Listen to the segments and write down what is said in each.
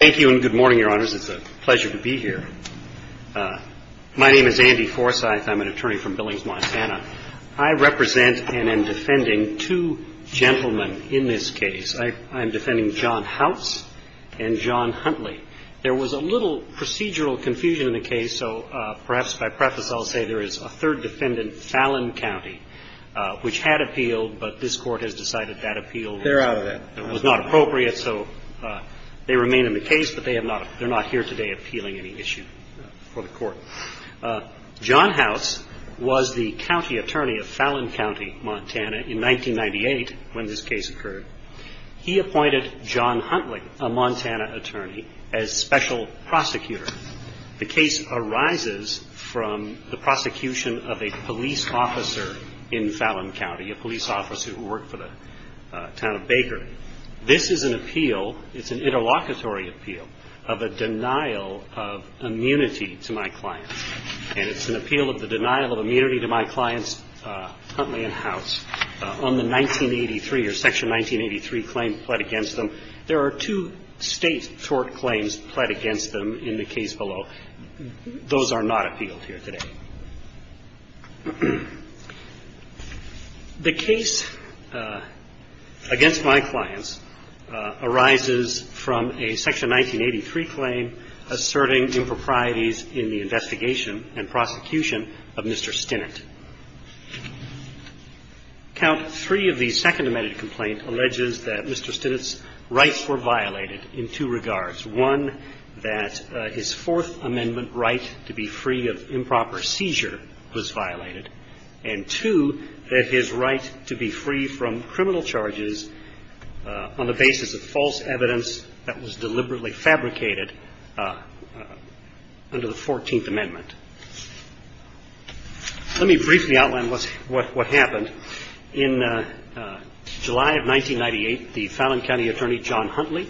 Thank you and good morning, Your Honors. It's a pleasure to be here. My name is Andy Forsyth. I'm an attorney from Billings, Monsanto. I represent and am defending two gentlemen in this case. I'm defending John House and John Huntley. There was a little procedural confusion in the case, so perhaps by preface I'll say there is a third defendant, Fallon County, which had appealed, but this Court has decided that appeal was not appropriate. So they remain in the case, but they're not here today appealing any issue for the Court. John House was the county attorney of Fallon County, Montana, in 1998 when this case occurred. He appointed John Huntley, a Montana attorney, as special prosecutor. The case arises from the prosecution of a police officer in Fallon County, a police officer who worked for the town of Baker. This is an appeal, it's an interlocutory appeal, of a denial of immunity to my clients. And it's an appeal of the denial of immunity to my clients, Huntley and House, on the 1983 or Section 1983 claim pled against them. There are two state tort claims pled against them in the case below. Those are not appealed here today. The case against my clients arises from a Section 1983 claim asserting improprieties in the investigation and prosecution of Mr. Stinnett. Count 3 of the Second Amended Complaint alleges that Mr. Stinnett's rights were violated in two regards. One, that his Fourth Amendment right to be free of improper seizure was violated, and two, that his right to be free from criminal charges on the basis of false evidence that was deliberately fabricated under the Fourteenth Amendment. Let me briefly outline what happened. In July of 1998, the Fallon County attorney, John Huntley,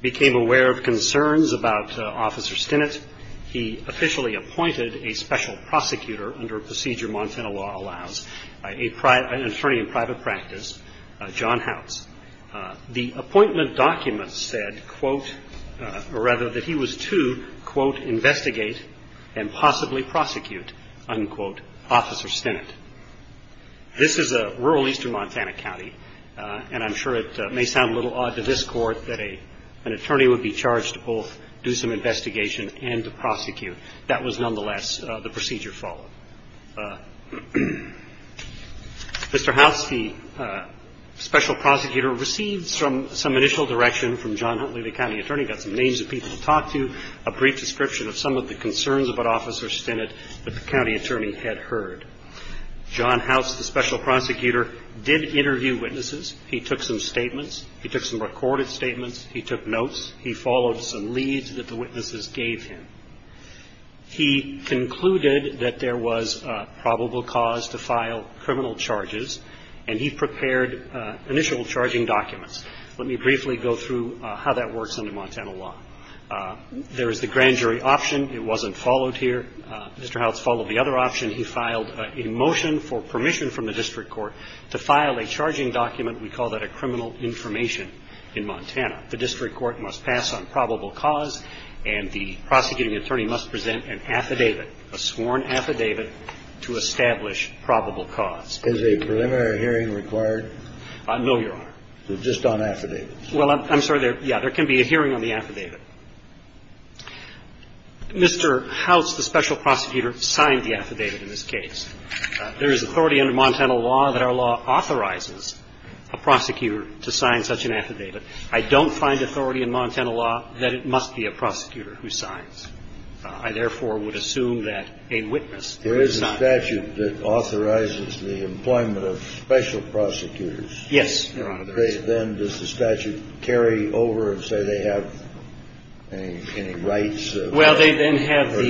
became aware of concerns about Officer Stinnett. He officially appointed a special prosecutor under a procedure Montana law allows, an attorney in private practice, John House. The appointment document said, quote, or rather that he was to, quote, investigate and possibly prosecute, unquote, Officer Stinnett. This is a rural eastern Montana county, and I'm sure it may sound a little odd to this Court that an attorney would be charged to both do some investigation and to prosecute. That was nonetheless the procedure followed. Mr. House, the special prosecutor, received some initial direction from John Huntley, the county attorney, got some names of people to talk to, a brief description of some of the concerns about Officer Stinnett that the county attorney had heard. John House, the special prosecutor, did interview witnesses. He took some statements. He took some recorded statements. He took notes. He followed some leads that the witnesses gave him. He concluded that there was probable cause to file criminal charges, and he prepared initial charging documents. Let me briefly go through how that works under Montana law. There is the grand jury option. It wasn't followed here. Mr. House followed the other option. He filed a motion for permission from the district court to file a charging document. We call that a criminal information in Montana. The district court must pass on probable cause, and the prosecuting attorney must present an affidavit, a sworn affidavit, to establish probable cause. Is a preliminary hearing required? No, Your Honor. Just on affidavits? Well, I'm sorry. Yeah, there can be a hearing on the affidavit. Mr. House, the special prosecutor, signed the affidavit in this case. There is authority under Montana law that our law authorizes a prosecutor to sign such an affidavit. I don't find authority in Montana law that it must be a prosecutor who signs. I, therefore, would assume that a witness would sign. There is a statute that authorizes the employment of special prosecutors. Yes, Your Honor. Then does the statute carry over and say they have any rights? Well, they then have the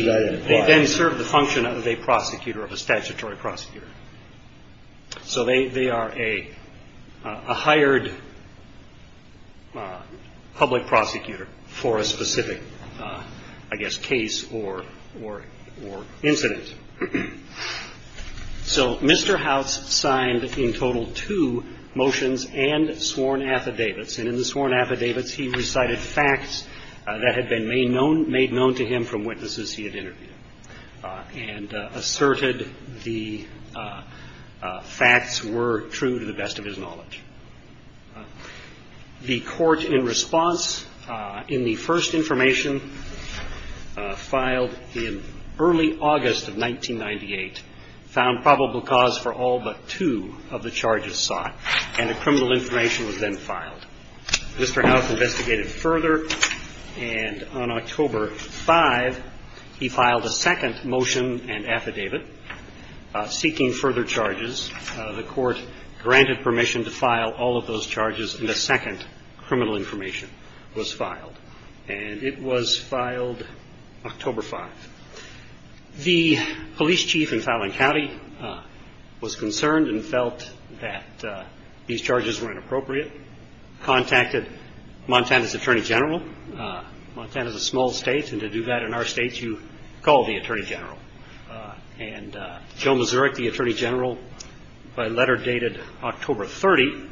– they then serve the function of a prosecutor, of a statutory prosecutor. So they are a hired public prosecutor for a specific, I guess, case or incident. So Mr. House signed in total two motions and sworn affidavits. And in the sworn affidavits, he recited facts that had been made known to him from witnesses he had interviewed and asserted the facts were true to the best of his knowledge. The court, in response, in the first information filed in early August of 1998, found probable cause for all but two of the charges sought, and the criminal information was then filed. Mr. House investigated further, and on October 5, he filed a second motion and affidavit seeking further charges. The court granted permission to file all of those charges, and a second criminal information was filed. And it was filed October 5. The police chief in Fowling County was concerned and felt that these charges were inappropriate, contacted Montana's attorney general. Montana's a small state, and to do that in our state, you call the attorney general. And Joe Mazurek, the attorney general, by letter dated October 30,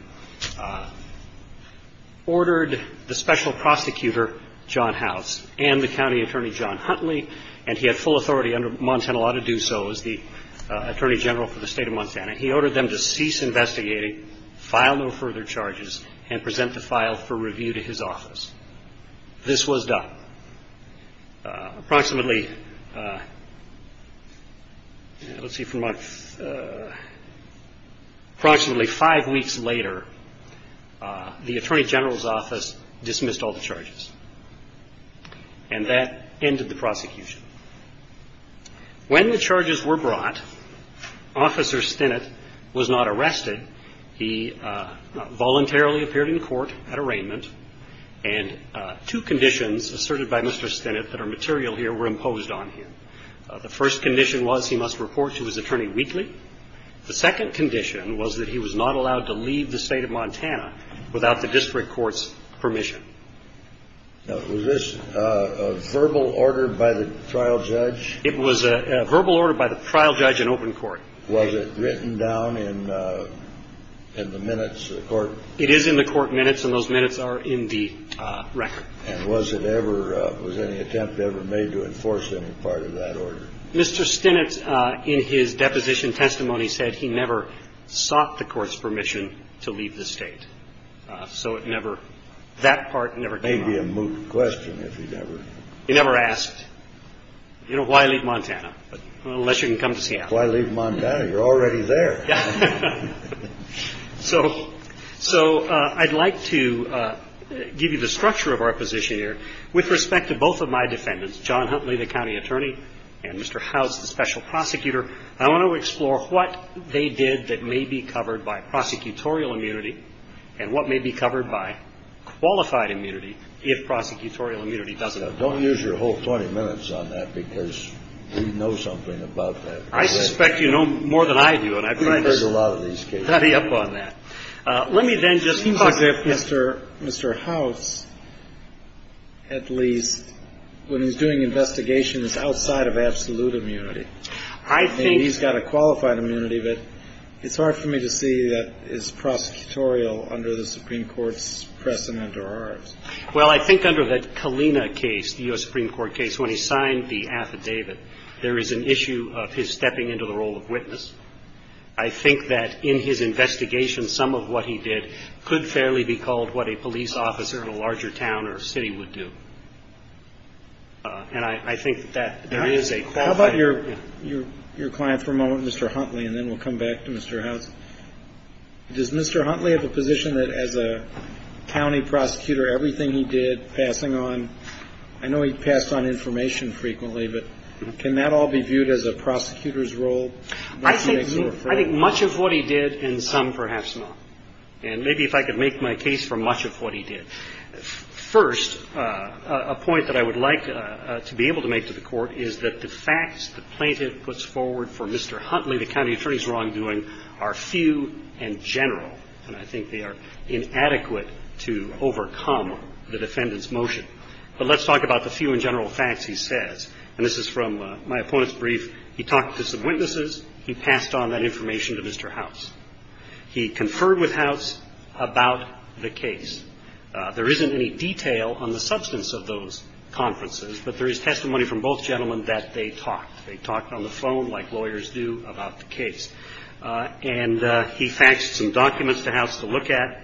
ordered the special prosecutor, John House, and the county attorney, John Huntley, and he had full authority under Montana law to do so as the attorney general for the state of Montana. He ordered them to cease investigating, file no further charges, and present the file for review to his office. This was done. Approximately five weeks later, the attorney general's office dismissed all the charges. And that ended the prosecution. When the charges were brought, Officer Stinnett was not arrested. He voluntarily appeared in court at arraignment, and two conditions asserted by Mr. Stinnett that are material here were imposed on him. The first condition was he must report to his attorney weekly. The second condition was that he was not allowed to leave the state of Montana without the district court's permission. Was this a verbal order by the trial judge? It was a verbal order by the trial judge in open court. Was it written down in the minutes of the court? It is in the court minutes, and those minutes are in the record. And was it ever – was any attempt ever made to enforce any part of that order? Mr. Stinnett, in his deposition testimony, said he never sought the court's permission to leave the state. So it never – that part never came up. It may be a moot question if he never – He never asked, you know, why leave Montana? Unless you can come to Seattle. Why leave Montana? You're already there. So I'd like to give you the structure of our position here with respect to both of my defendants, John Huntley, the county attorney, and Mr. House, the special prosecutor. I want to explore what they did that may be covered by prosecutorial immunity and what may be covered by qualified immunity if prosecutorial immunity doesn't apply. Now, don't use your whole 20 minutes on that because we know something about that. I suspect you know more than I do, and I'm trying to study up on that. Let me then just – Mr. House, at least, when he's doing investigations, is outside of absolute immunity. I think – I mean, he's got a qualified immunity, but it's hard for me to see that is prosecutorial under the Supreme Court's precedent or ours. Well, I think under the Kalina case, the U.S. Supreme Court case, when he signed the affidavit, there is an issue of his stepping into the role of witness. I think that in his investigation, some of what he did could fairly be called what a police officer in a larger town or city would do. And I think that there is a – How about your client for a moment, Mr. Huntley, and then we'll come back to Mr. House. Does Mr. Huntley have a position that as a county prosecutor, everything he did, passing on – I know he passed on information frequently, but can that all be viewed as a prosecutor's role? I think much of what he did and some perhaps not. And maybe if I could make my case for much of what he did. First, a point that I would like to be able to make to the Court is that the facts the plaintiff puts forward for Mr. Huntley, the county attorney's wrongdoing, are few and general. And I think they are inadequate to overcome the defendant's motion. But let's talk about the few and general facts he says. And this is from my opponent's brief. He talked to some witnesses. He passed on that information to Mr. House. He conferred with House about the case. There isn't any detail on the substance of those conferences, but there is testimony from both gentlemen that they talked. They talked on the phone like lawyers do about the case. And he faxed some documents to House to look at,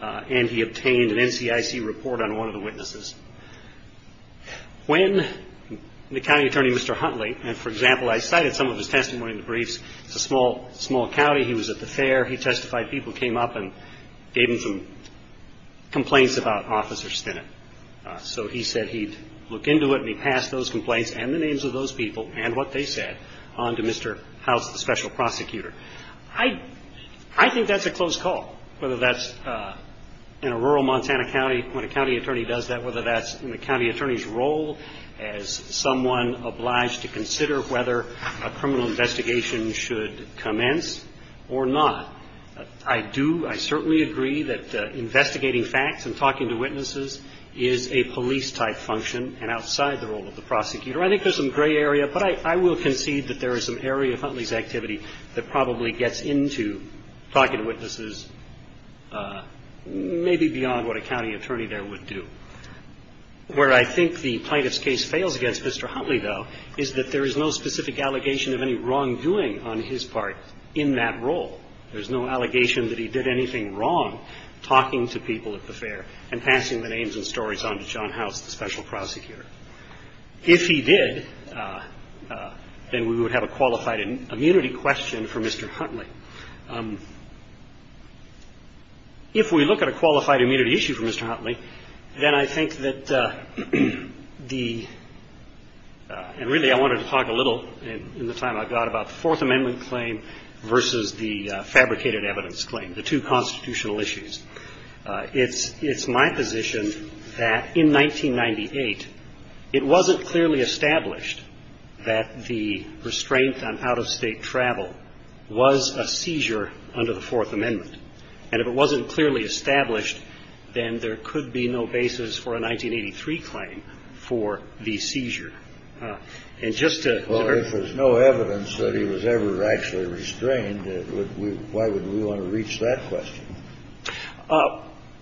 and he obtained an NCIC report on one of the witnesses. When the county attorney, Mr. Huntley, and, for example, I cited some of his testimony in the briefs. It's a small county. He was at the fair. He testified. People came up and gave him some complaints about Officer Stinnett. So he said he'd look into it, and he passed those complaints and the names of those people and what they said on to Mr. House, the special prosecutor. I think that's a close call, whether that's in a rural Montana county, when a county attorney does that, whether that's in the county attorney's role as someone obliged to consider whether a criminal investigation should commence or not. I do, I certainly agree that investigating facts and talking to witnesses is a police-type function and outside the role of the prosecutor. I think there's some gray area, but I will concede that there is some area of Huntley's activity that probably gets into talking to witnesses maybe beyond what a county attorney there would do. Where I think the plaintiff's case fails against Mr. Huntley, though, is that there is no specific allegation of any wrongdoing on his part in that role. There's no allegation that he did anything wrong talking to people at the fair and passing the names and stories on to John House, the special prosecutor. If he did, then we would have a qualified immunity question for Mr. Huntley. If we look at a qualified immunity issue for Mr. Huntley, then I think that the – and really I wanted to talk a little in the time I've got about the Fourth Amendment claim versus the fabricated evidence claim, the two constitutional issues. It's my position that in 1998, it wasn't clearly established that the restraint on out-of-state travel was a seizure under the Fourth Amendment. And if it wasn't clearly established, then there could be no basis for a 1983 claim for the seizure. And just to – Well, if there's no evidence that he was ever actually restrained, why would we want to reach that question?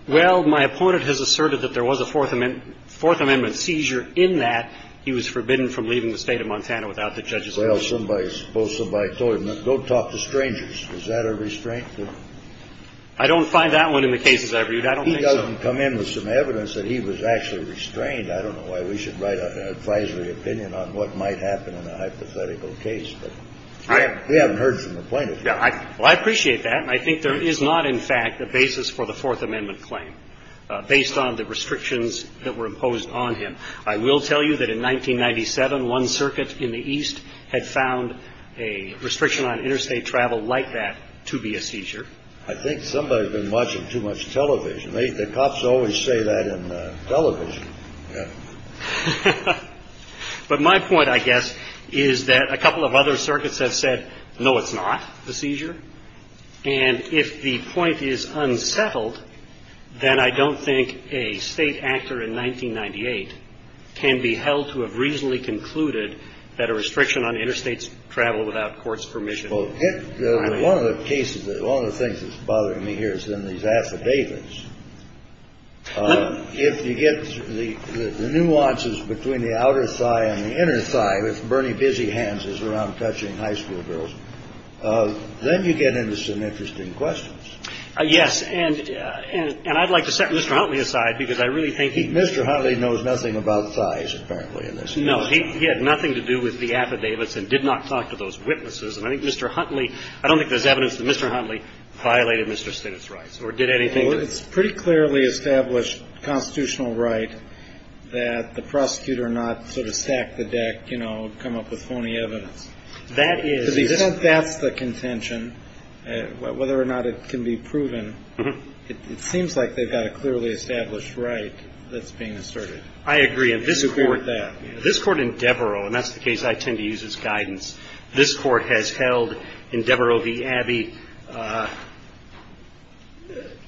Well, my opponent has asserted that there was a Fourth Amendment seizure in that he was forbidden from leaving the state of Montana without the judge's approval. Well, somebody – suppose somebody told him, go talk to strangers. Is that a restraint? I don't find that one in the cases I've reviewed. I don't think so. He doesn't come in with some evidence that he was actually restrained. I don't know why we should write an advisory opinion on what might happen in a hypothetical case. But we haven't heard from the plaintiffs yet. Well, I appreciate that. And I think there is not, in fact, a basis for the Fourth Amendment claim, based on the restrictions that were imposed on him. I will tell you that in 1997, one circuit in the East had found a restriction on interstate travel like that to be a seizure. I think somebody's been watching too much television. The cops always say that in television. But my point, I guess, is that a couple of other circuits have said, no, it's not a seizure. And if the point is unsettled, then I don't think a state actor in 1998 can be held to have reasonably concluded that a restriction on interstate travel without court's permission. Well, one of the cases that one of the things that's bothering me here is in these affidavits. If you get the nuances between the outer side and the inner side, Bernie busy hands is around touching high school girls. Then you get into some interesting questions. Yes. And I'd like to set Mr. Huntley aside because I really think Mr. Huntley knows nothing about size. No, he had nothing to do with the affidavits and did not talk to those witnesses. And I think Mr. Huntley, I don't think there's evidence that Mr. Huntley violated Mr. Stitt's rights or did anything. Well, it's pretty clearly established constitutional right that the prosecutor not sort of stack the deck, you know, come up with phony evidence. That is. Because he said that's the contention, whether or not it can be proven. It seems like they've got a clearly established right that's being asserted. I agree. This Court in Devereaux, and that's the case I tend to use as guidance, this Court has held in Devereaux v. Abbey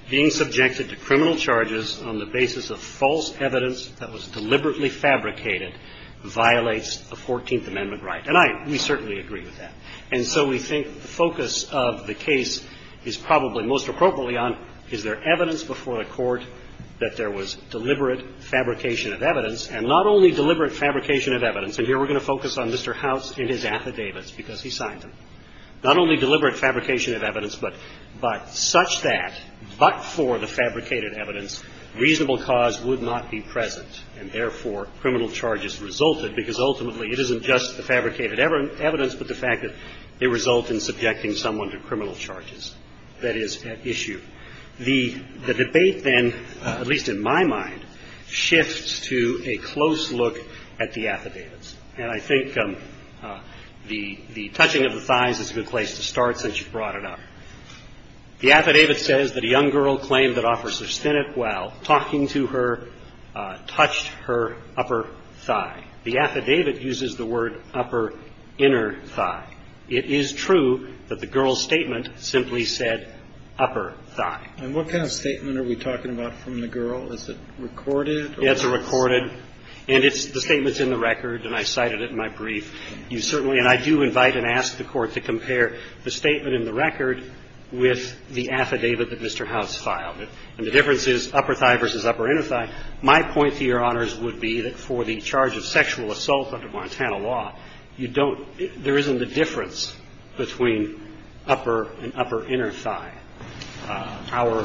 being subjected to criminal charges on the basis of false evidence that was deliberately fabricated violates the Fourteenth Amendment right. And I, we certainly agree with that. And so we think the focus of the case is probably most appropriately on is there evidence before the Court that there was deliberate fabrication of evidence, and not only deliberate fabrication of evidence. And here we're going to focus on Mr. House and his affidavits because he signed them. Not only deliberate fabrication of evidence, but such that, but for the fabricated evidence, reasonable cause would not be present. And therefore, criminal charges resulted because ultimately it isn't just the fabricated evidence, but the fact that they result in subjecting someone to criminal charges. That is at issue. The debate then, at least in my mind, shifts to a close look at the affidavits. And I think the touching of the thighs is a good place to start since you brought it up. The affidavit says that a young girl claimed that officers thinned it while talking to her touched her upper thigh. The affidavit uses the word upper inner thigh. It is true that the girl's statement simply said upper thigh. And what kind of statement are we talking about from the girl? Is it recorded or? It's recorded. And it's the statement's in the record, and I cited it in my brief. You certainly, and I do invite and ask the Court to compare the statement in the record with the affidavit that Mr. House filed. And the difference is upper thigh versus upper inner thigh. My point to Your Honors would be that for the charge of sexual assault under Montana law, you don't, there isn't a difference between upper and upper inner thigh. Our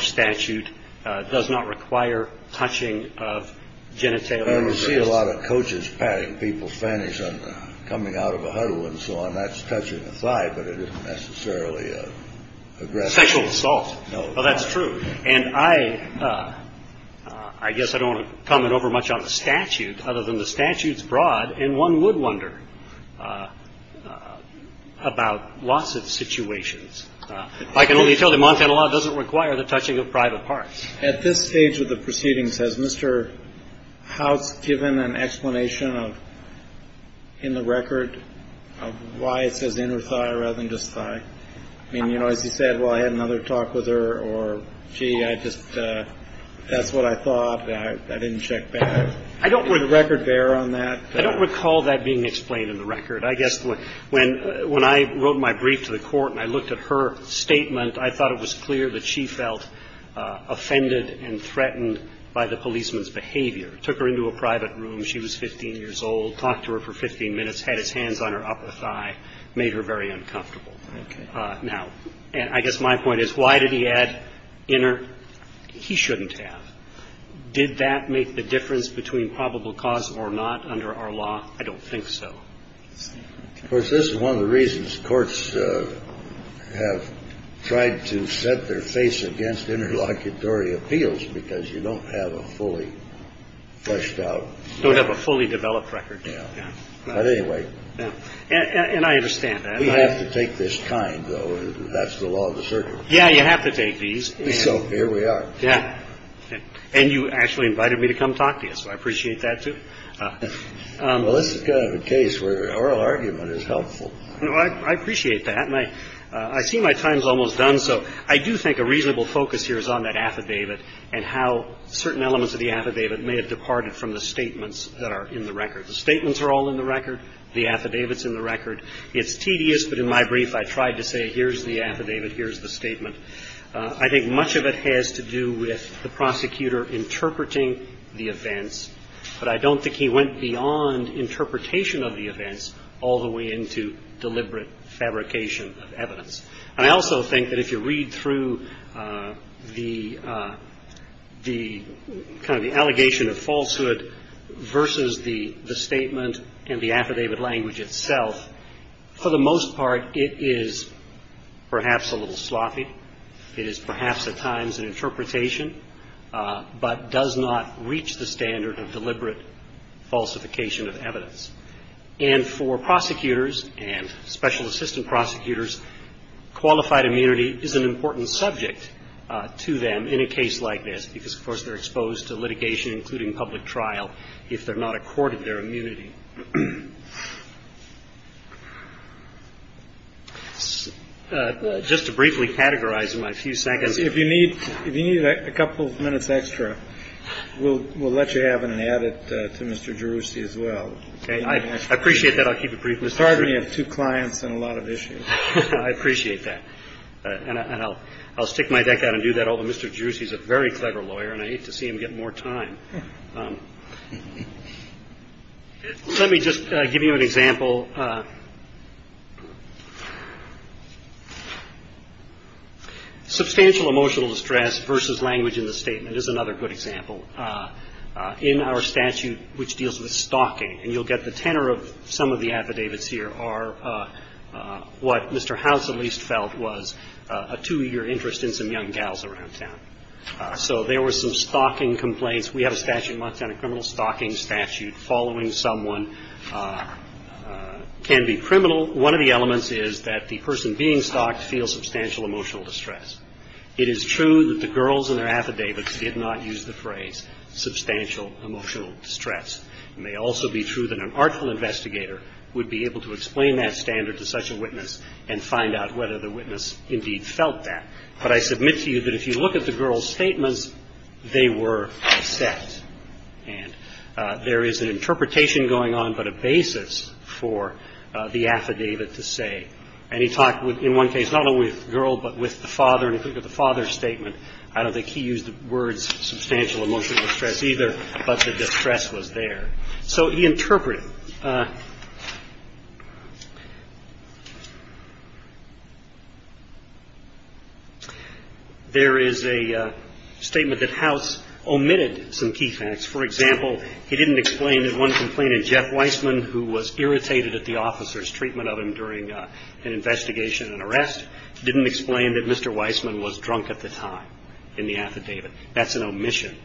statute does not require touching of genitalia. I don't see a lot of coaches patting people's fannies on the coming out of a huddle and so on. That's touching the thigh, but it isn't necessarily aggressive. Sexual assault. No. Well, that's true. And I, I guess I don't want to comment over much on the statute other than the statute's broad, and one would wonder about loss of situations. I can only tell you Montana law doesn't require the touching of private parts. At this stage of the proceedings, has Mr. House given an explanation of, in the record, of why it says inner thigh rather than just thigh? I mean, you know, as you said, well, I had another talk with her, or, gee, I just, that's what I thought. I didn't check back. I don't want to record bear on that. I don't recall that being explained in the record. I guess when, when I wrote my brief to the court and I looked at her statement, I thought it was clear that she felt offended and threatened by the policeman's behavior. Took her into a private room. She was 15 years old. Talked to her for 15 minutes. Had his hands on her upper thigh. Made her very uncomfortable. Now, I guess my point is, why did he add inner? He shouldn't have. Did that make the difference between probable cause or not under our law? I don't think so. Of course, this is one of the reasons courts have tried to set their face against interlocutory appeals, because you don't have a fully fleshed out. You don't have a fully developed record. Yeah. But anyway. And I understand that. We have to take this kind, though. That's the law of the circuit. Yeah, you have to take these. So here we are. Yeah. And you actually invited me to come talk to you, so I appreciate that, too. Well, this is kind of a case where oral argument is helpful. I appreciate that. And I see my time's almost done, so I do think a reasonable focus here is on that affidavit and how certain elements of the affidavit may have departed from the statements that are in the record. The statements are all in the record. The affidavit's in the record. It's tedious, but in my brief, I tried to say here's the affidavit, here's the statement. I think much of it has to do with the prosecutor interpreting the events, but I don't think he went beyond interpretation of the events all the way into deliberate fabrication of evidence. And I also think that if you read through the kind of the allegation of falsehood versus the statement and the affidavit language itself, for the most part, it is perhaps a little sloppy. It is perhaps at times an interpretation, but does not reach the standard of deliberate falsification of evidence. And for prosecutors and special assistant prosecutors, qualified immunity is an important subject to them in a case like this because, of course, they're exposed to litigation, including public trial, if they're not accorded their immunity. Just to briefly categorize in my few seconds. Kennedy. If you need a couple of minutes extra, we'll let you have it and add it to Mr. Jerusey as well. Okay. I appreciate that. I'll keep it brief, Mr. Chairman. It's hard when you have two clients and a lot of issues. I appreciate that. And I'll stick my deck out and do that, although Mr. Jerusey is a very clever lawyer and I hate to see him get more time. Let me just give you an example. Substantial emotional distress versus language in the statement is another good example. In our statute, which deals with stalking, and you'll get the tenor of some of the affidavits here, are what Mr. House at least felt was a two-year interest in some young gals around town. So there were some stalking complaints. We have a statute in Montana Criminal Stalking Statute. Following someone can be criminal. One of the elements is that the person being stalked feels substantial emotional distress. It is true that the girls in their affidavits did not use the phrase substantial emotional distress. It may also be true that an artful investigator would be able to explain that standard to such a witness and find out whether the witness indeed felt that. But I submit to you that if you look at the girls' statements, they were a set. And there is an interpretation going on but a basis for the affidavit to say. And he talked in one case not only with the girl but with the father. And if you look at the father's statement, I don't think he used the words substantial emotional distress either, but the distress was there. So he interpreted. There is a statement that House omitted some key facts. For example, he didn't explain that one complainant, Jeff Weissman, who was irritated at the officer's treatment of him during an investigation and arrest, didn't explain that Mr. Weissman was drunk at the time in the affidavit. That's an omission.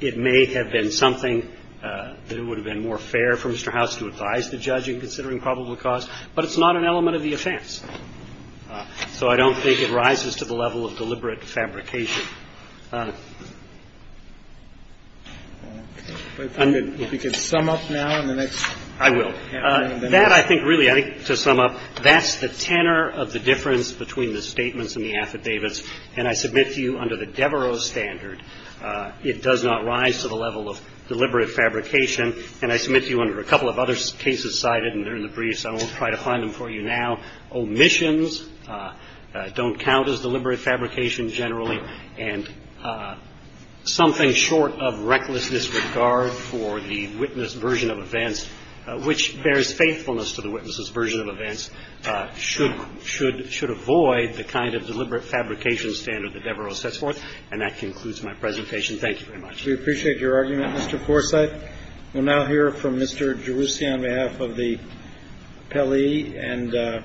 It may have been something that it would have been more fair for Mr. House to advise the judge in considering probable cause, but it's not an element of the offense. So I don't think it rises to the level of deliberate fabrication. I'm going to. If you could sum up now on the next. I will. That I think really I think to sum up, that's the tenor of the difference between the statements and the affidavits. And I submit to you under the Devereaux standard, it does not rise to the level of deliberate fabrication. And I submit to you under a couple of other cases cited, and they're in the briefs. I won't try to find them for you now. Omissions don't count as deliberate fabrication generally. And something short of recklessness with regard for the witness version of events, which bears faithfulness to the witness's version of events, should avoid the kind of deliberate fabrication standard that Devereaux sets forth. And that concludes my presentation. Thank you very much. We appreciate your argument, Mr. Forsythe. We'll now hear from Mr. Gerussi on behalf of the appellee. And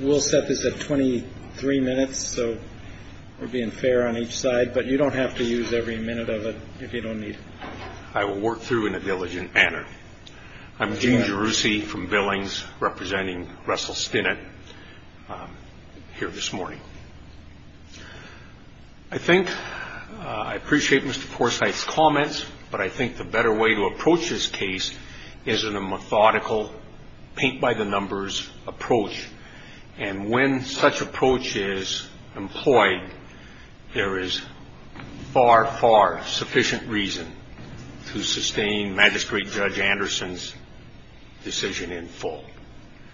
we'll set this at 23 minutes, so we're being fair on each side. But you don't have to use every minute of it if you don't need it. I will work through in a diligent manner. I'm Gene Gerussi from Billings, representing Russell Stinnett here this morning. I think I appreciate Mr. Forsythe's comments, but I think the better way to approach this case is in a methodical, paint-by-the-numbers approach. And when such approach is employed, there is far, far sufficient reason to sustain Magistrate Judge Anderson's decision in full.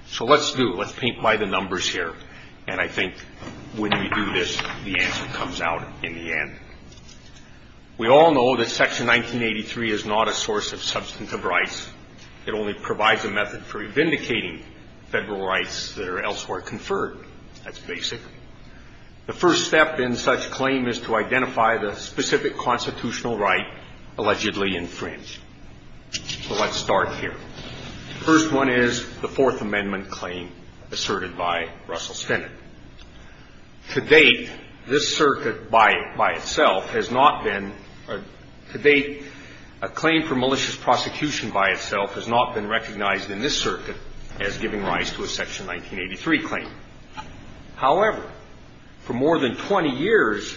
So let's do it. Let's paint by the numbers here. And I think when we do this, the answer comes out in the end. We all know that Section 1983 is not a source of substantive rights. It only provides a method for vindicating federal rights that are elsewhere conferred. That's basic. The first step in such claim is to identify the specific constitutional right allegedly infringed. So let's start here. The first one is the Fourth Amendment claim asserted by Russell Stinnett. To date, this circuit by itself has not been, to date a claim for malicious prosecution by itself has not been recognized in this circuit as giving rise to a Section 1983 claim. However, for more than 20 years,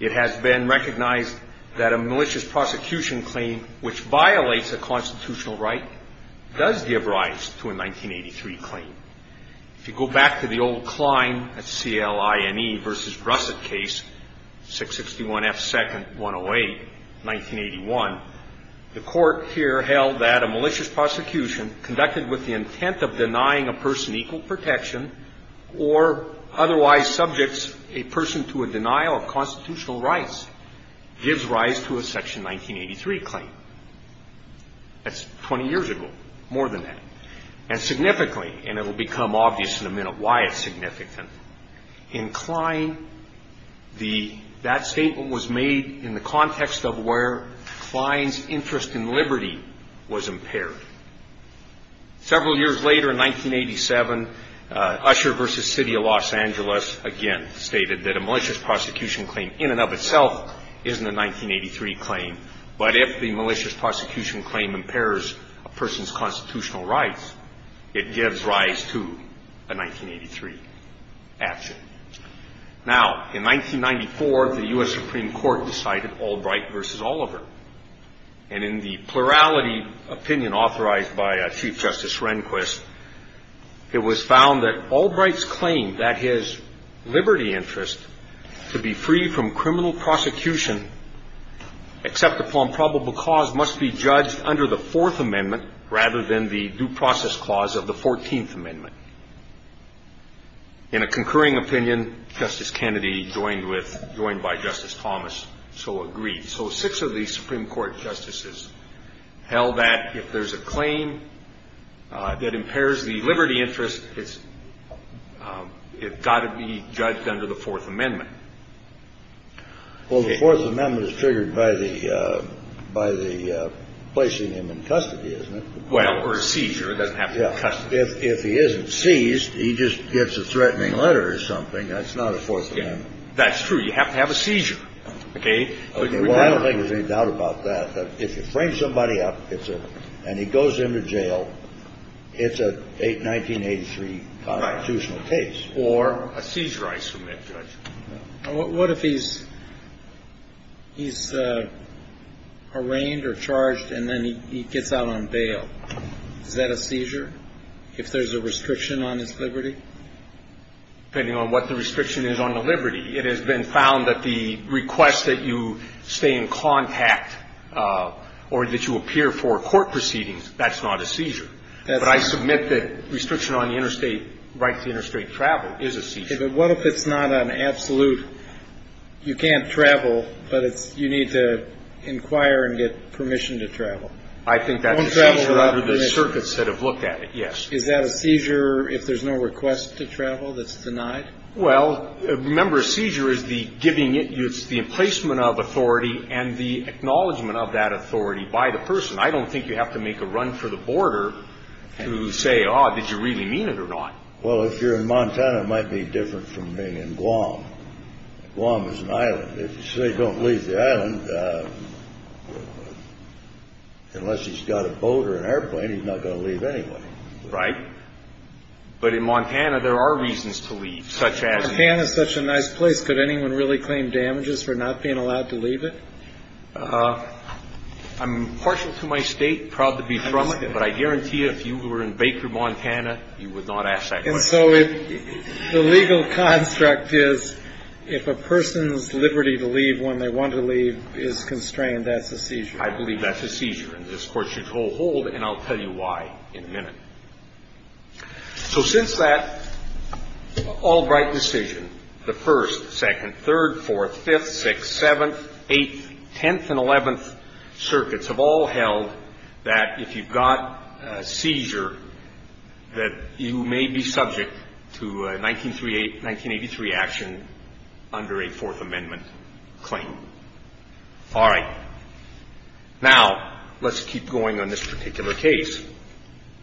it has been recognized that a malicious prosecution claim which violates a constitutional right does give rise to a 1983 claim. If you go back to the old Klein, that's C-L-I-N-E, versus Russett case, 661 F. 2nd, 108, 1981, the court here held that a malicious prosecution conducted with the intent of denying a person equal protection or otherwise subjects a person to a denial of constitutional rights gives rise to a Section 1983 claim. That's 20 years ago, more than that. And significantly, and it will become obvious in a minute why it's significant, in Klein, that statement was made in the context of where Klein's interest in liberty was impaired. Several years later, in 1987, Usher v. City of Los Angeles again stated that a malicious prosecution claim in and of itself isn't a 1983 claim, but if the malicious prosecution claim impairs a person's constitutional rights, it gives rise to a 1983 action. Now, in 1994, the U.S. Supreme Court decided Albright v. Oliver. And in the plurality opinion authorized by Chief Justice Rehnquist, it was found that Albright's claim that his liberty interest to be free from criminal prosecution except upon probable cause must be judged under the Fourth Amendment rather than the due process clause of the Fourteenth Amendment. In a concurring opinion, Justice Kennedy, joined by Justice Thomas, so agreed. So six of the Supreme Court justices held that if there's a claim that impairs the liberty interest, it's got to be judged under the Fourth Amendment. Well, the Fourth Amendment is triggered by the placing him in custody, isn't it? Well, or a seizure. It doesn't have to be custody. If he isn't seized, he just gets a threatening letter or something. That's not a Fourth Amendment. That's true. You have to have a seizure, okay? Well, I don't think there's any doubt about that. If you frame somebody up and he goes into jail, it's a 1983 constitutional case. Or a seizure, I submit, Judge. What if he's arraigned or charged and then he gets out on bail? Is that a seizure if there's a restriction on his liberty? Depending on what the restriction is on the liberty, it has been found that the request that you stay in contact or that you appear for court proceedings, that's not a seizure. But I submit that restriction on the interstate rights to interstate travel is a seizure. But what if it's not an absolute, you can't travel, but you need to inquire and get permission to travel? I think that's a seizure under the circuits that have looked at it, yes. Is that a seizure if there's no request to travel that's denied? Well, remember, a seizure is the giving it, it's the emplacement of authority and the acknowledgement of that authority by the person. I don't think you have to make a run for the border to say, oh, did you really mean it or not? Well, if you're in Montana, it might be different from being in Guam. Guam is an island. If you say don't leave the island, unless he's got a boat or an airplane, he's not going to leave anyway. Right. But in Montana, there are reasons to leave, such as? Montana is such a nice place. Could anyone really claim damages for not being allowed to leave it? I'm partial to my state, proud to be from it, but I guarantee you if you were in Baker, Montana, you would not ask that question. And so the legal construct is if a person's liberty to leave when they want to leave is constrained, that's a seizure. I believe that's a seizure. And this Court should hold, and I'll tell you why in a minute. So since that Albright decision, the First, Second, Third, Fourth, Fifth, Sixth, Seventh, Eighth, Tenth, and Eleventh circuits have all held that if you've got a seizure, that you may be subject to a 1983 action under a Fourth Amendment claim. All right. Now, let's keep going on this particular case.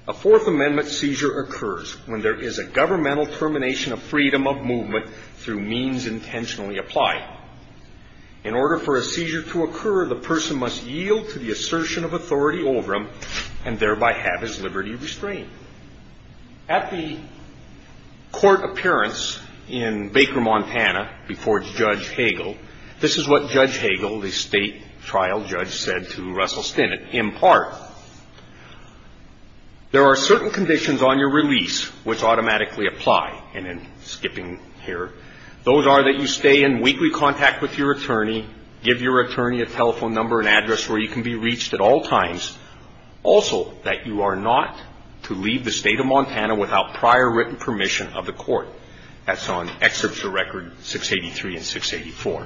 A Fourth Amendment seizure occurs when there is a governmental termination of freedom of movement through means intentionally applied. In order for a seizure to occur, the person must yield to the assertion of authority over them and thereby have his liberty restrained. At the court appearance in Baker, Montana, before Judge Hagel, this is what Judge Hagel, the state trial judge, said to Russell Stinnett. In part, there are certain conditions on your release which automatically apply. And in skipping here, those are that you stay in weekly contact with your attorney, give your attorney a telephone number and address where you can be reached at all times. Also, that you are not to leave the state of Montana without prior written permission of the court. That's on Excerpture Record 683 and 684.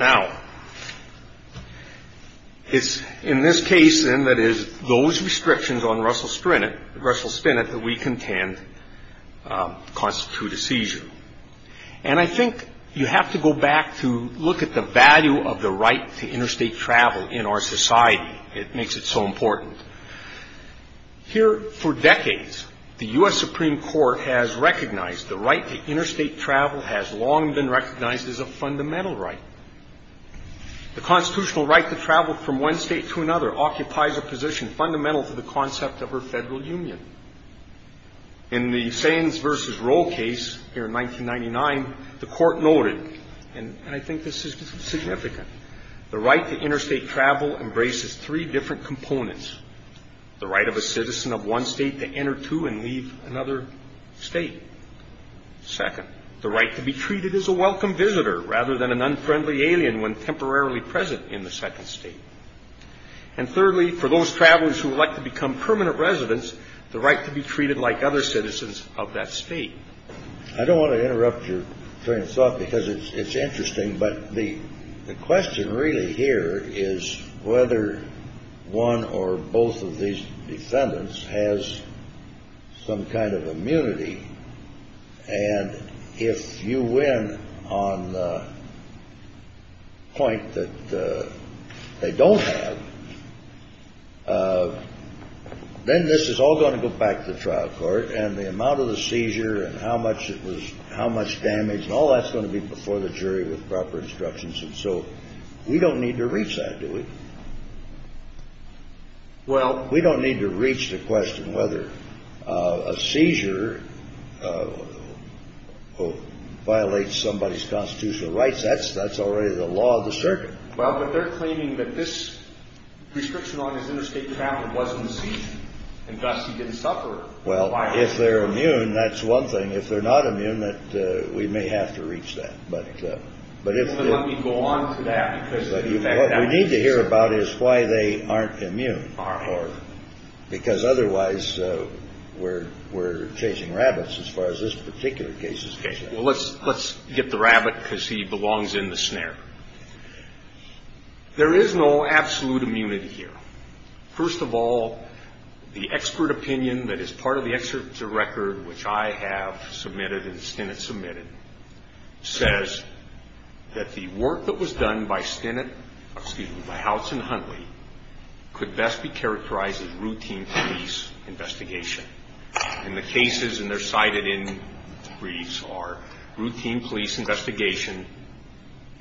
Now, it's in this case and that is those restrictions on Russell Stinnett that we contend constitute a seizure. And I think you have to go back to look at the value of the right to interstate travel in our society. It makes it so important. Here, for decades, the U.S. Supreme Court has recognized the right to interstate travel has long been recognized as a fundamental right. The constitutional right to travel from one state to another occupies a position fundamental to the concept of a federal union. In the Sands v. Roe case here in 1999, the court noted, and I think this is significant, the right to interstate travel embraces three different components. The right of a citizen of one state to enter two and leave another state. Second, the right to be treated as a welcome visitor rather than an unfriendly alien when temporarily present in the second state. And thirdly, for those travelers who would like to become permanent residents, the right to be treated like other citizens of that state. I don't want to interrupt your train of thought because it's interesting, but the question really here is whether one or both of these defendants has some kind of immunity. And if you win on the point that they don't have, then this is all going to go back to the trial court. And the amount of the seizure and how much it was, how much damage and all that's going to be before the jury with proper instructions. And so we don't need to reach that, do we? Well, we don't need to reach the question whether a seizure violates somebody's constitutional rights. That's that's already the law of the circuit. Well, but they're claiming that this prescription on his interstate travel wasn't seen and thus he didn't suffer. Well, if they're immune, that's one thing. If they're not immune, that we may have to reach that. But let me go on to that. What we need to hear about is why they aren't immune or because otherwise we're we're chasing rabbits as far as this particular case is concerned. Well, let's let's get the rabbit because he belongs in the snare. There is no absolute immunity here. First of all, the expert opinion that is part of the record, which I have submitted and Stennett submitted, says that the work that was done by Stennett, excuse me, by Howitz and Huntley, could best be characterized as routine police investigation. And the cases and they're cited in briefs are routine police investigation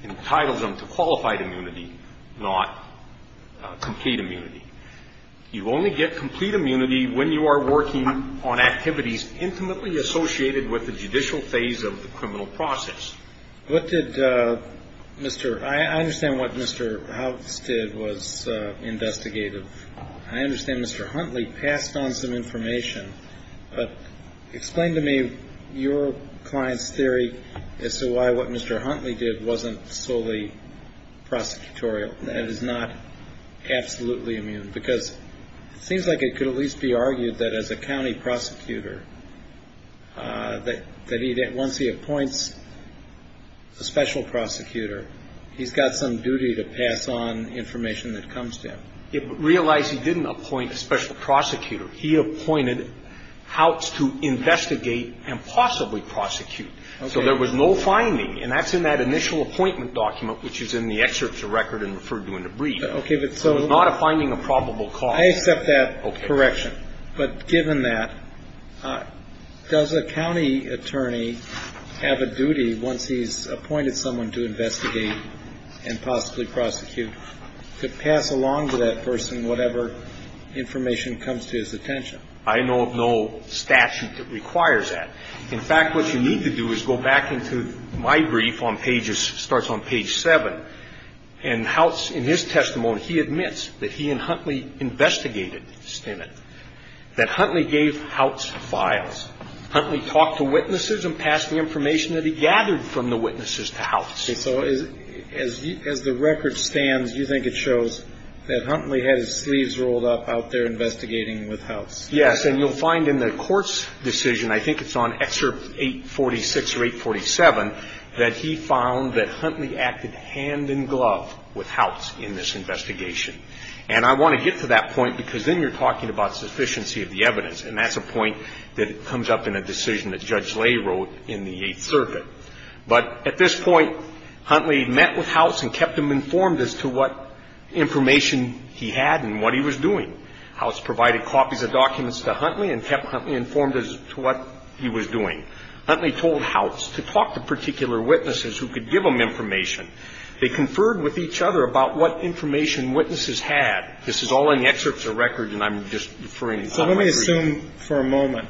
entitled them to qualified immunity, not complete immunity. You only get complete immunity when you are working on activities intimately associated with the judicial phase of the criminal process. What did Mr. I understand what Mr. Howitz did was investigative. I understand Mr. Huntley passed on some information. But explain to me your client's theory as to why what Mr. Huntley did wasn't solely prosecutorial. That is not absolutely immune because it seems like it could at least be argued that as a county prosecutor, that once he appoints a special prosecutor, he's got some duty to pass on information that comes to him. It would realize he didn't appoint a special prosecutor. He appointed Howitz to investigate and possibly prosecute. So there was no finding. And that's in that initial appointment document, which is in the excerpts of record and referred to in the brief. It's not a finding of probable cause. I accept that correction. But given that, does a county attorney have a duty once he's appointed someone to investigate and possibly prosecute to pass along to that person whatever information comes to his attention? I know of no statute that requires that. In fact, what you need to do is go back into my brief on pages, starts on page 7. And Howitz, in his testimony, he admits that he and Huntley investigated Stennett, that Huntley gave Howitz files. Huntley talked to witnesses and passed the information that he gathered from the witnesses to Howitz. So as the record stands, you think it shows that Huntley had his sleeves rolled up out there investigating with Howitz? Yes. And you'll find in the court's decision, I think it's on excerpt 846 or 847, that he found that Huntley acted hand in glove with Howitz in this investigation. And I want to get to that point because then you're talking about sufficiency of the evidence. And that's a point that comes up in a decision that Judge Lay wrote in the Eighth Circuit. But at this point, Huntley met with Howitz and kept him informed as to what information he had and what he was doing. Howitz provided copies of documents to Huntley and kept Huntley informed as to what he was doing. Huntley told Howitz to talk to particular witnesses who could give him information. They conferred with each other about what information witnesses had. This is all in the excerpts of the record, and I'm just referring to my brief. Let's assume for a moment,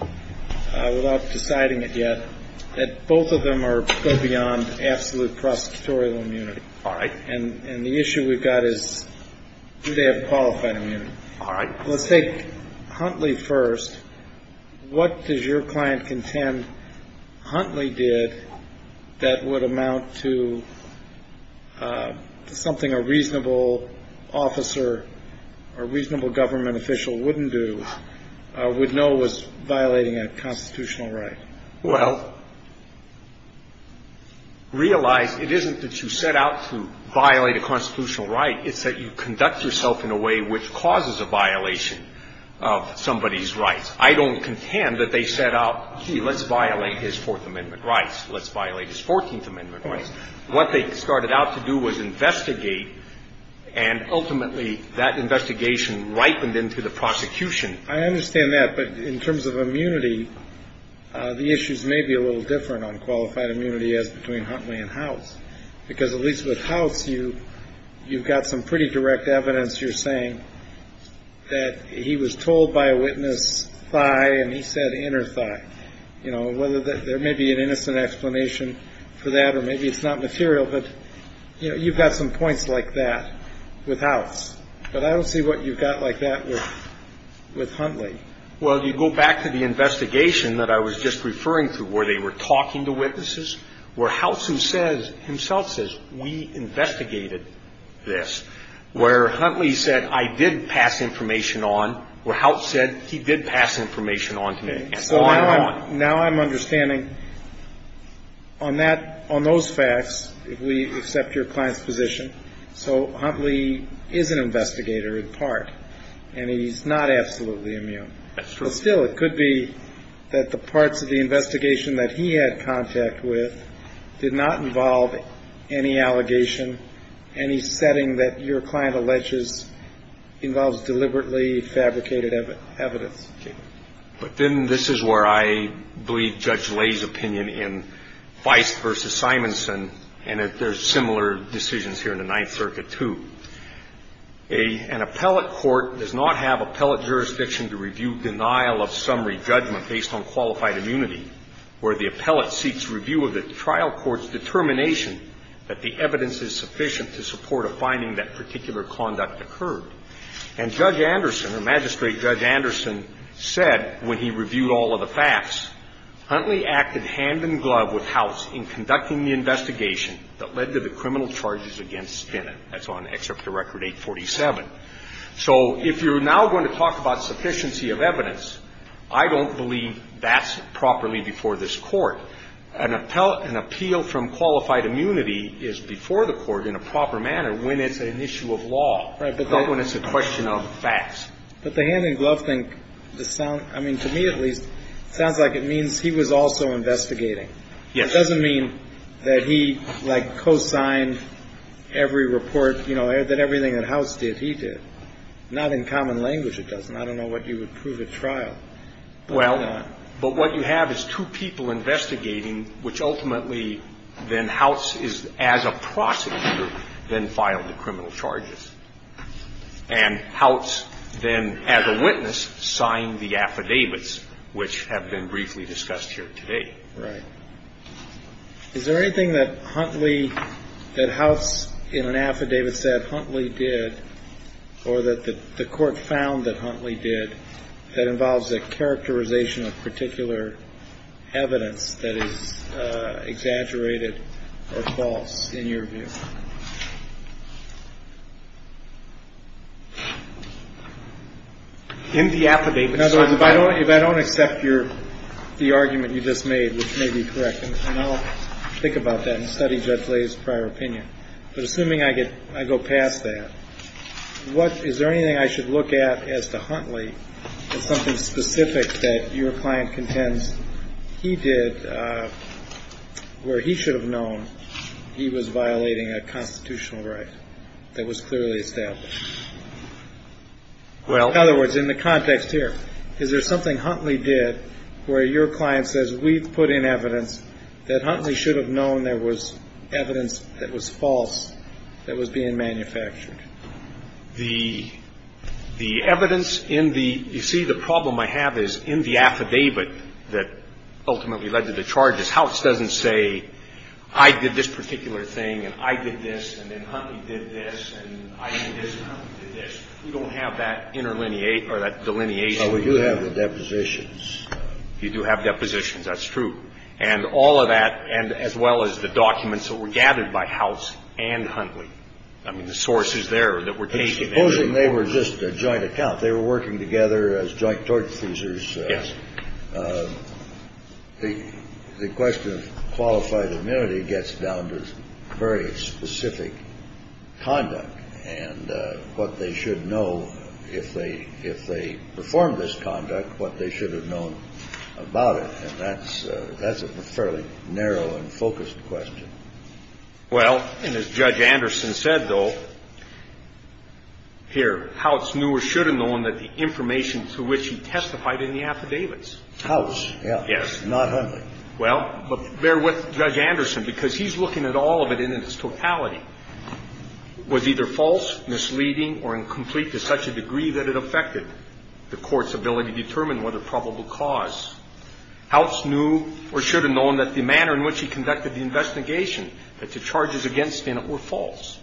without deciding it yet, that both of them go beyond absolute prosecutorial immunity. All right. And the issue we've got is do they have qualified immunity? All right. Let's take Huntley first. What does your client contend Huntley did that would amount to something a reasonable officer or reasonable government official wouldn't do, would know was violating a constitutional right? Well, realize it isn't that you set out to violate a constitutional right. It's that you conduct yourself in a way which causes a violation of somebody's rights. I don't contend that they set out, gee, let's violate his Fourth Amendment rights. Let's violate his Fourteenth Amendment rights. What they started out to do was investigate, and ultimately that investigation ripened into the prosecution. I understand that. But in terms of immunity, the issues may be a little different on qualified immunity as between Huntley and Howitz, because at least with Howitz, you've got some pretty direct evidence. You're saying that he was told by a witness, thigh, and he said inner thigh. Whether there may be an innocent explanation for that or maybe it's not material, but you've got some points like that with Howitz. But I don't see what you've got like that with Huntley. Well, you go back to the investigation that I was just referring to where they were talking to witnesses, where Howitz himself says we investigated this, where Huntley said I did pass information on, where Howitz said he did pass information on to me. So now I'm understanding on that, on those facts, if we accept your client's position, so Huntley is an investigator in part, and he's not absolutely immune. That's true. But still, it could be that the parts of the investigation that he had contact with did not involve any allegation, any setting that your client alleges involves deliberately fabricated evidence. Okay. But then this is where I believe Judge Lay's opinion in Feist v. Simonson, and there's similar decisions here in the Ninth Circuit, too. An appellate court does not have appellate jurisdiction to review denial of summary judgment based on qualified immunity, where the appellate seeks review of the trial court's determination that the evidence is sufficient to support a finding that particular conduct occurred. And Judge Anderson, or Magistrate Judge Anderson, said when he reviewed all of the facts, Huntley acted hand-in-glove with Howitz in conducting the investigation that led to the criminal charges against Spinnett. That's on Excerpt to Record 847. So if you're now going to talk about sufficiency of evidence, I don't believe that's properly before this Court. An appeal from qualified immunity is before the Court in a proper manner when it's an issue of law. Not when it's a question of facts. But the hand-in-glove thing, I mean, to me at least, sounds like it means he was also investigating. Yes. It doesn't mean that he, like, co-signed every report, you know, that everything that Howitz did, he did. Not in common language, it doesn't. I don't know what you would prove at trial. Well, but what you have is two people investigating, which ultimately then Howitz is, as a prosecutor, then filed the criminal charges. And Howitz then, as a witness, signed the affidavits, which have been briefly discussed here today. Right. Is there anything that Huntley, that Howitz in an affidavit said Huntley did, or that the Court found that Huntley did, that involves a characterization of particular evidence that is exaggerated or false in your view? In the affidavit. In other words, if I don't accept your – the argument you just made, which may be correct, and I'll think about that and study Judge Lay's prior opinion. But assuming I get – I go past that, what – is there anything I should look at as to Huntley as something specific that your client contends he did where he should have known he was violating a constitutional right that was clearly established? Well – In other words, in the context here, is there something Huntley did where your client says, we've put in evidence that Huntley should have known there was evidence that was false that was being manufactured? The – the evidence in the – you see, the problem I have is, in the affidavit that ultimately led to the charges, Howitz doesn't say, I did this particular thing, and I did this, and then Huntley did this, and I did this, and Huntley did this. We don't have that interlineate – or that delineation. But we do have the depositions. You do have depositions, that's true. And all of that, and as well as the documents that were gathered by Howitz and Huntley, I mean, the sources there that were taken. But supposing they were just a joint account. They were working together as joint tort accusers. Yes. The – the question of qualified immunity gets down to very specific conduct and what they should know if they – what they should have known about it. And that's – that's a fairly narrow and focused question. Well, and as Judge Anderson said, though, here, Howitz knew or should have known that the information to which he testified in the affidavits. Howitz, yeah. Yes. Not Huntley. Well, but bear with Judge Anderson, because he's looking at all of it in its totality. Was either false, misleading, or incomplete to such a degree that it affected the court's ability to determine what a probable cause. Howitz knew or should have known that the manner in which he conducted the investigation, that the charges against Stinnett were false.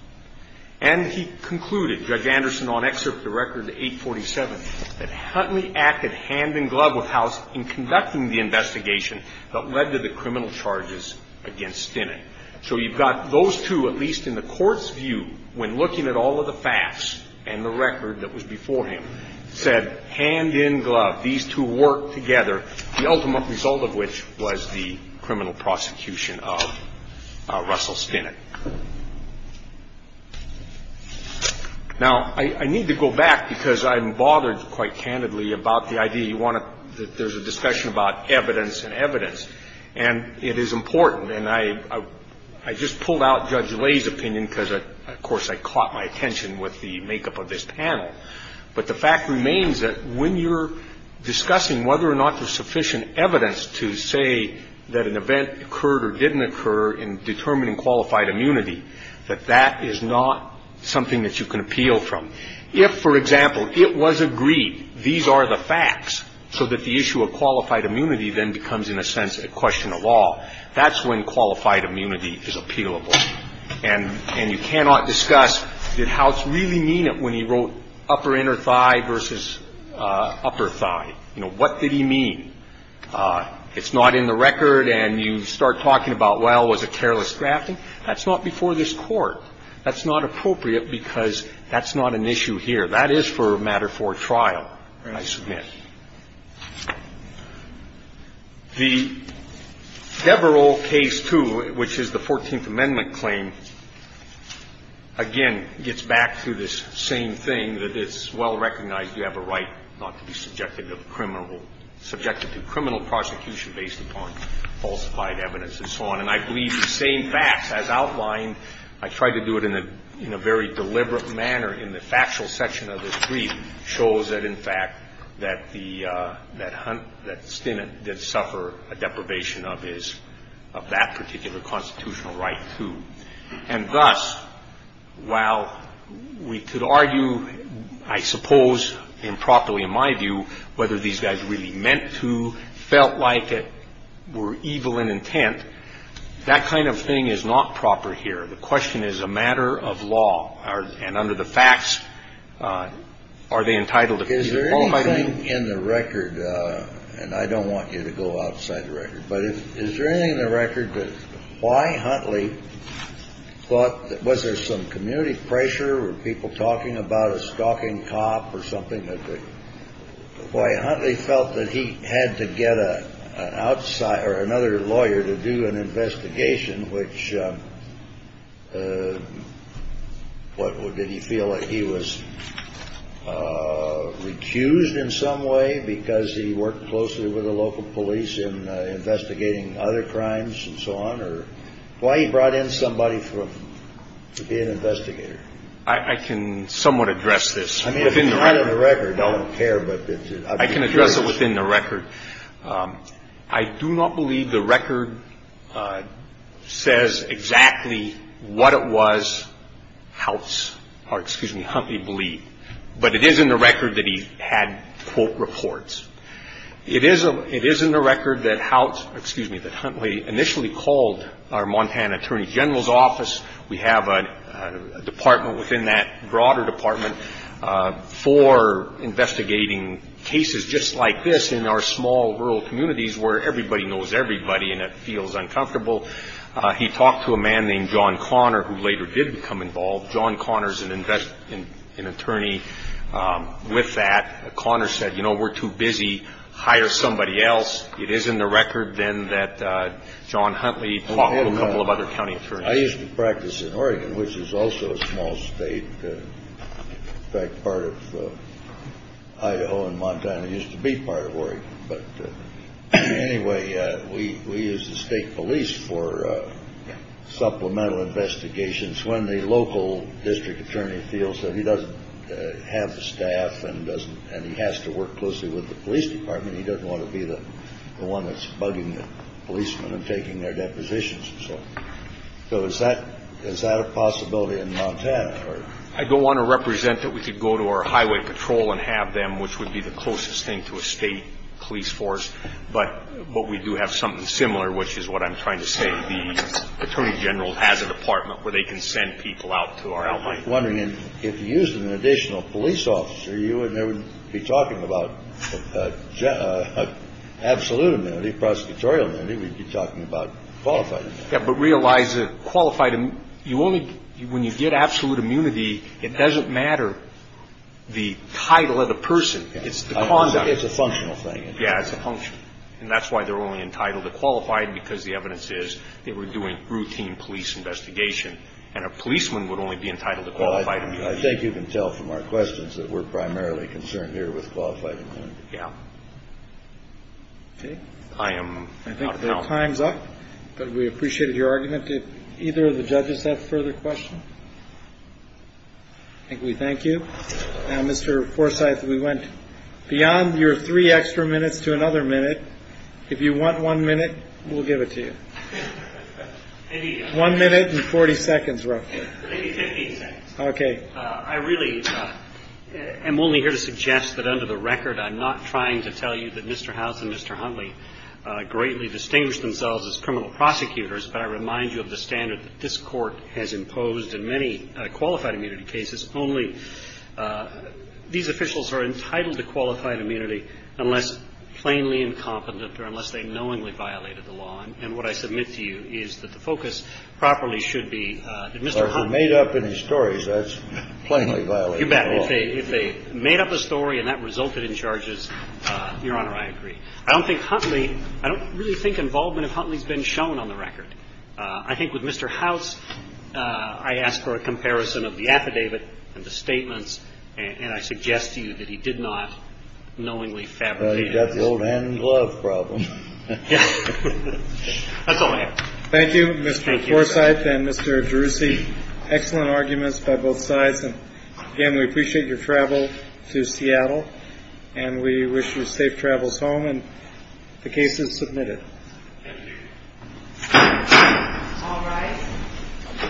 And he concluded, Judge Anderson, on excerpt of the record, 847, that Huntley acted hand-in-glove with Howitz in conducting the investigation that led to the criminal charges against Stinnett. So you've got those two, at least in the court's view, when looking at all of the facts and the record that was before him, said, hand-in-glove, these two work together, the ultimate result of which was the criminal prosecution of Russell Stinnett. Now, I need to go back, because I'm bothered quite candidly about the idea you want to – that there's a discussion about evidence and evidence. And it is important, and I just pulled out Judge Lay's opinion because, of course, I caught my attention with the makeup of this panel. But the fact remains that when you're discussing whether or not there's sufficient evidence to say that an event occurred or didn't occur in determining qualified immunity, that that is not something that you can appeal from. If, for example, it was agreed, these are the facts, so that the issue of qualified immunity then becomes, in a sense, a question of law, that's when qualified immunity is appealable. And you cannot discuss, did Howitz really mean it when he wrote upper inner thigh versus upper thigh? You know, what did he mean? It's not in the record, and you start talking about, well, was it careless drafting? That's not before this Court. That's not appropriate because that's not an issue here. That is for a matter for a trial, I submit. The Devereux case 2, which is the Fourteenth Amendment claim, again, gets back to this same thing, that it's well recognized you have a right not to be subjected to criminal – subjected to criminal prosecution based upon falsified evidence and so on. And I believe the same facts, as outlined, I tried to do it in a very deliberate manner in the factual section of this brief, shows that, in fact, that the – that Stinnett did suffer a deprivation of his – of that particular constitutional right, too. And thus, while we could argue, I suppose improperly in my view, whether these guys really meant to, felt like it, were evil in intent, that kind of thing is not proper here. The question is a matter of law. And under the facts, are they entitled to – Is there anything in the record – and I don't want you to go outside the record – but is there anything in the record that – why Huntley thought that – was there some community pressure or people talking about a stalking cop or something that – why Huntley felt that he had to get an outside – or another lawyer to do an investigation which – what, did he feel like he was recused in some way because he worked closely with the local police in investigating other crimes and so on, or – why he brought in somebody from – to be an investigator? I can somewhat address this. I mean, if it's not in the record, I don't care, but I'd be curious. I can address it within the record. I do not believe the record says exactly what it was House – or, excuse me, Huntley believed. But it is in the record that he had, quote, reports. It is in the record that House – excuse me, that Huntley initially called our Montana Attorney General's office. We have a department within that broader department for investigating cases just like this in our small rural communities where everybody knows everybody and it feels uncomfortable. He talked to a man named John Connor, who later did become involved. John Connor is an attorney with that. Connor said, you know, we're too busy, hire somebody else. It is in the record, then, that John Huntley talked to a couple of other county attorneys. I used to practice in Oregon, which is also a small state. In fact, part of Idaho and Montana used to be part of Oregon. But anyway, we used the state police for supplemental investigations. When the local district attorney feels that he doesn't have the staff and he has to work closely with the police department, he doesn't want to be the one that's bugging the policemen and taking their depositions and so on. So is that a possibility in Montana? I don't want to represent that we could go to our highway patrol and have them, which would be the closest thing to a state police force. But we do have something similar, which is what I'm trying to say. The attorney general has a department where they can send people out to our albino. I was wondering if you used an additional police officer, you would never be talking about absolute immunity, prosecutorial immunity. We'd be talking about qualified immunity. Yeah, but realize that qualified, you only when you get absolute immunity, it doesn't matter the title of the person. It's the conduct. It's a functional thing. Yeah, it's a function. And that's why they're only entitled to qualified because the evidence is they were doing routine police investigation. And a policeman would only be entitled to qualified immunity. I think you can tell from our questions that we're primarily concerned here with qualified immunity. Yeah. Okay. I am out of help. I think the time's up. But we appreciated your argument. Did either of the judges have further questions? I think we thank you. Now, Mr. Forsythe, we went beyond your three extra minutes to another minute. If you want one minute, we'll give it to you. One minute and 40 seconds, roughly. Maybe 15 seconds. Okay. I really am only here to suggest that under the record, I'm not trying to tell you that Mr. House and Mr. Huntley greatly distinguished themselves as criminal prosecutors, but I remind you of the standard that this Court has imposed in many qualified immunity cases, only these officials are entitled to qualified immunity unless plainly incompetent or unless they knowingly violated the law. And what I submit to you is that the focus properly should be that Mr. Huntley But if they made up any stories, that's plainly violated the law. You bet. If they made up a story and that resulted in charges, Your Honor, I agree. I don't think Huntley – I don't really think involvement of Huntley's been shown on the record. I think with Mr. House, I ask for a comparison of the affidavit and the statements, and I suggest to you that he did not knowingly fabricate it. Well, he's got the old hand and glove problem. That's all I have. Thank you, Mr. Forsythe and Mr. Gerussi. Excellent arguments by both sides. Again, we appreciate your travel to Seattle, and we wish you safe travels home, and the case is submitted. Thank you. All rise.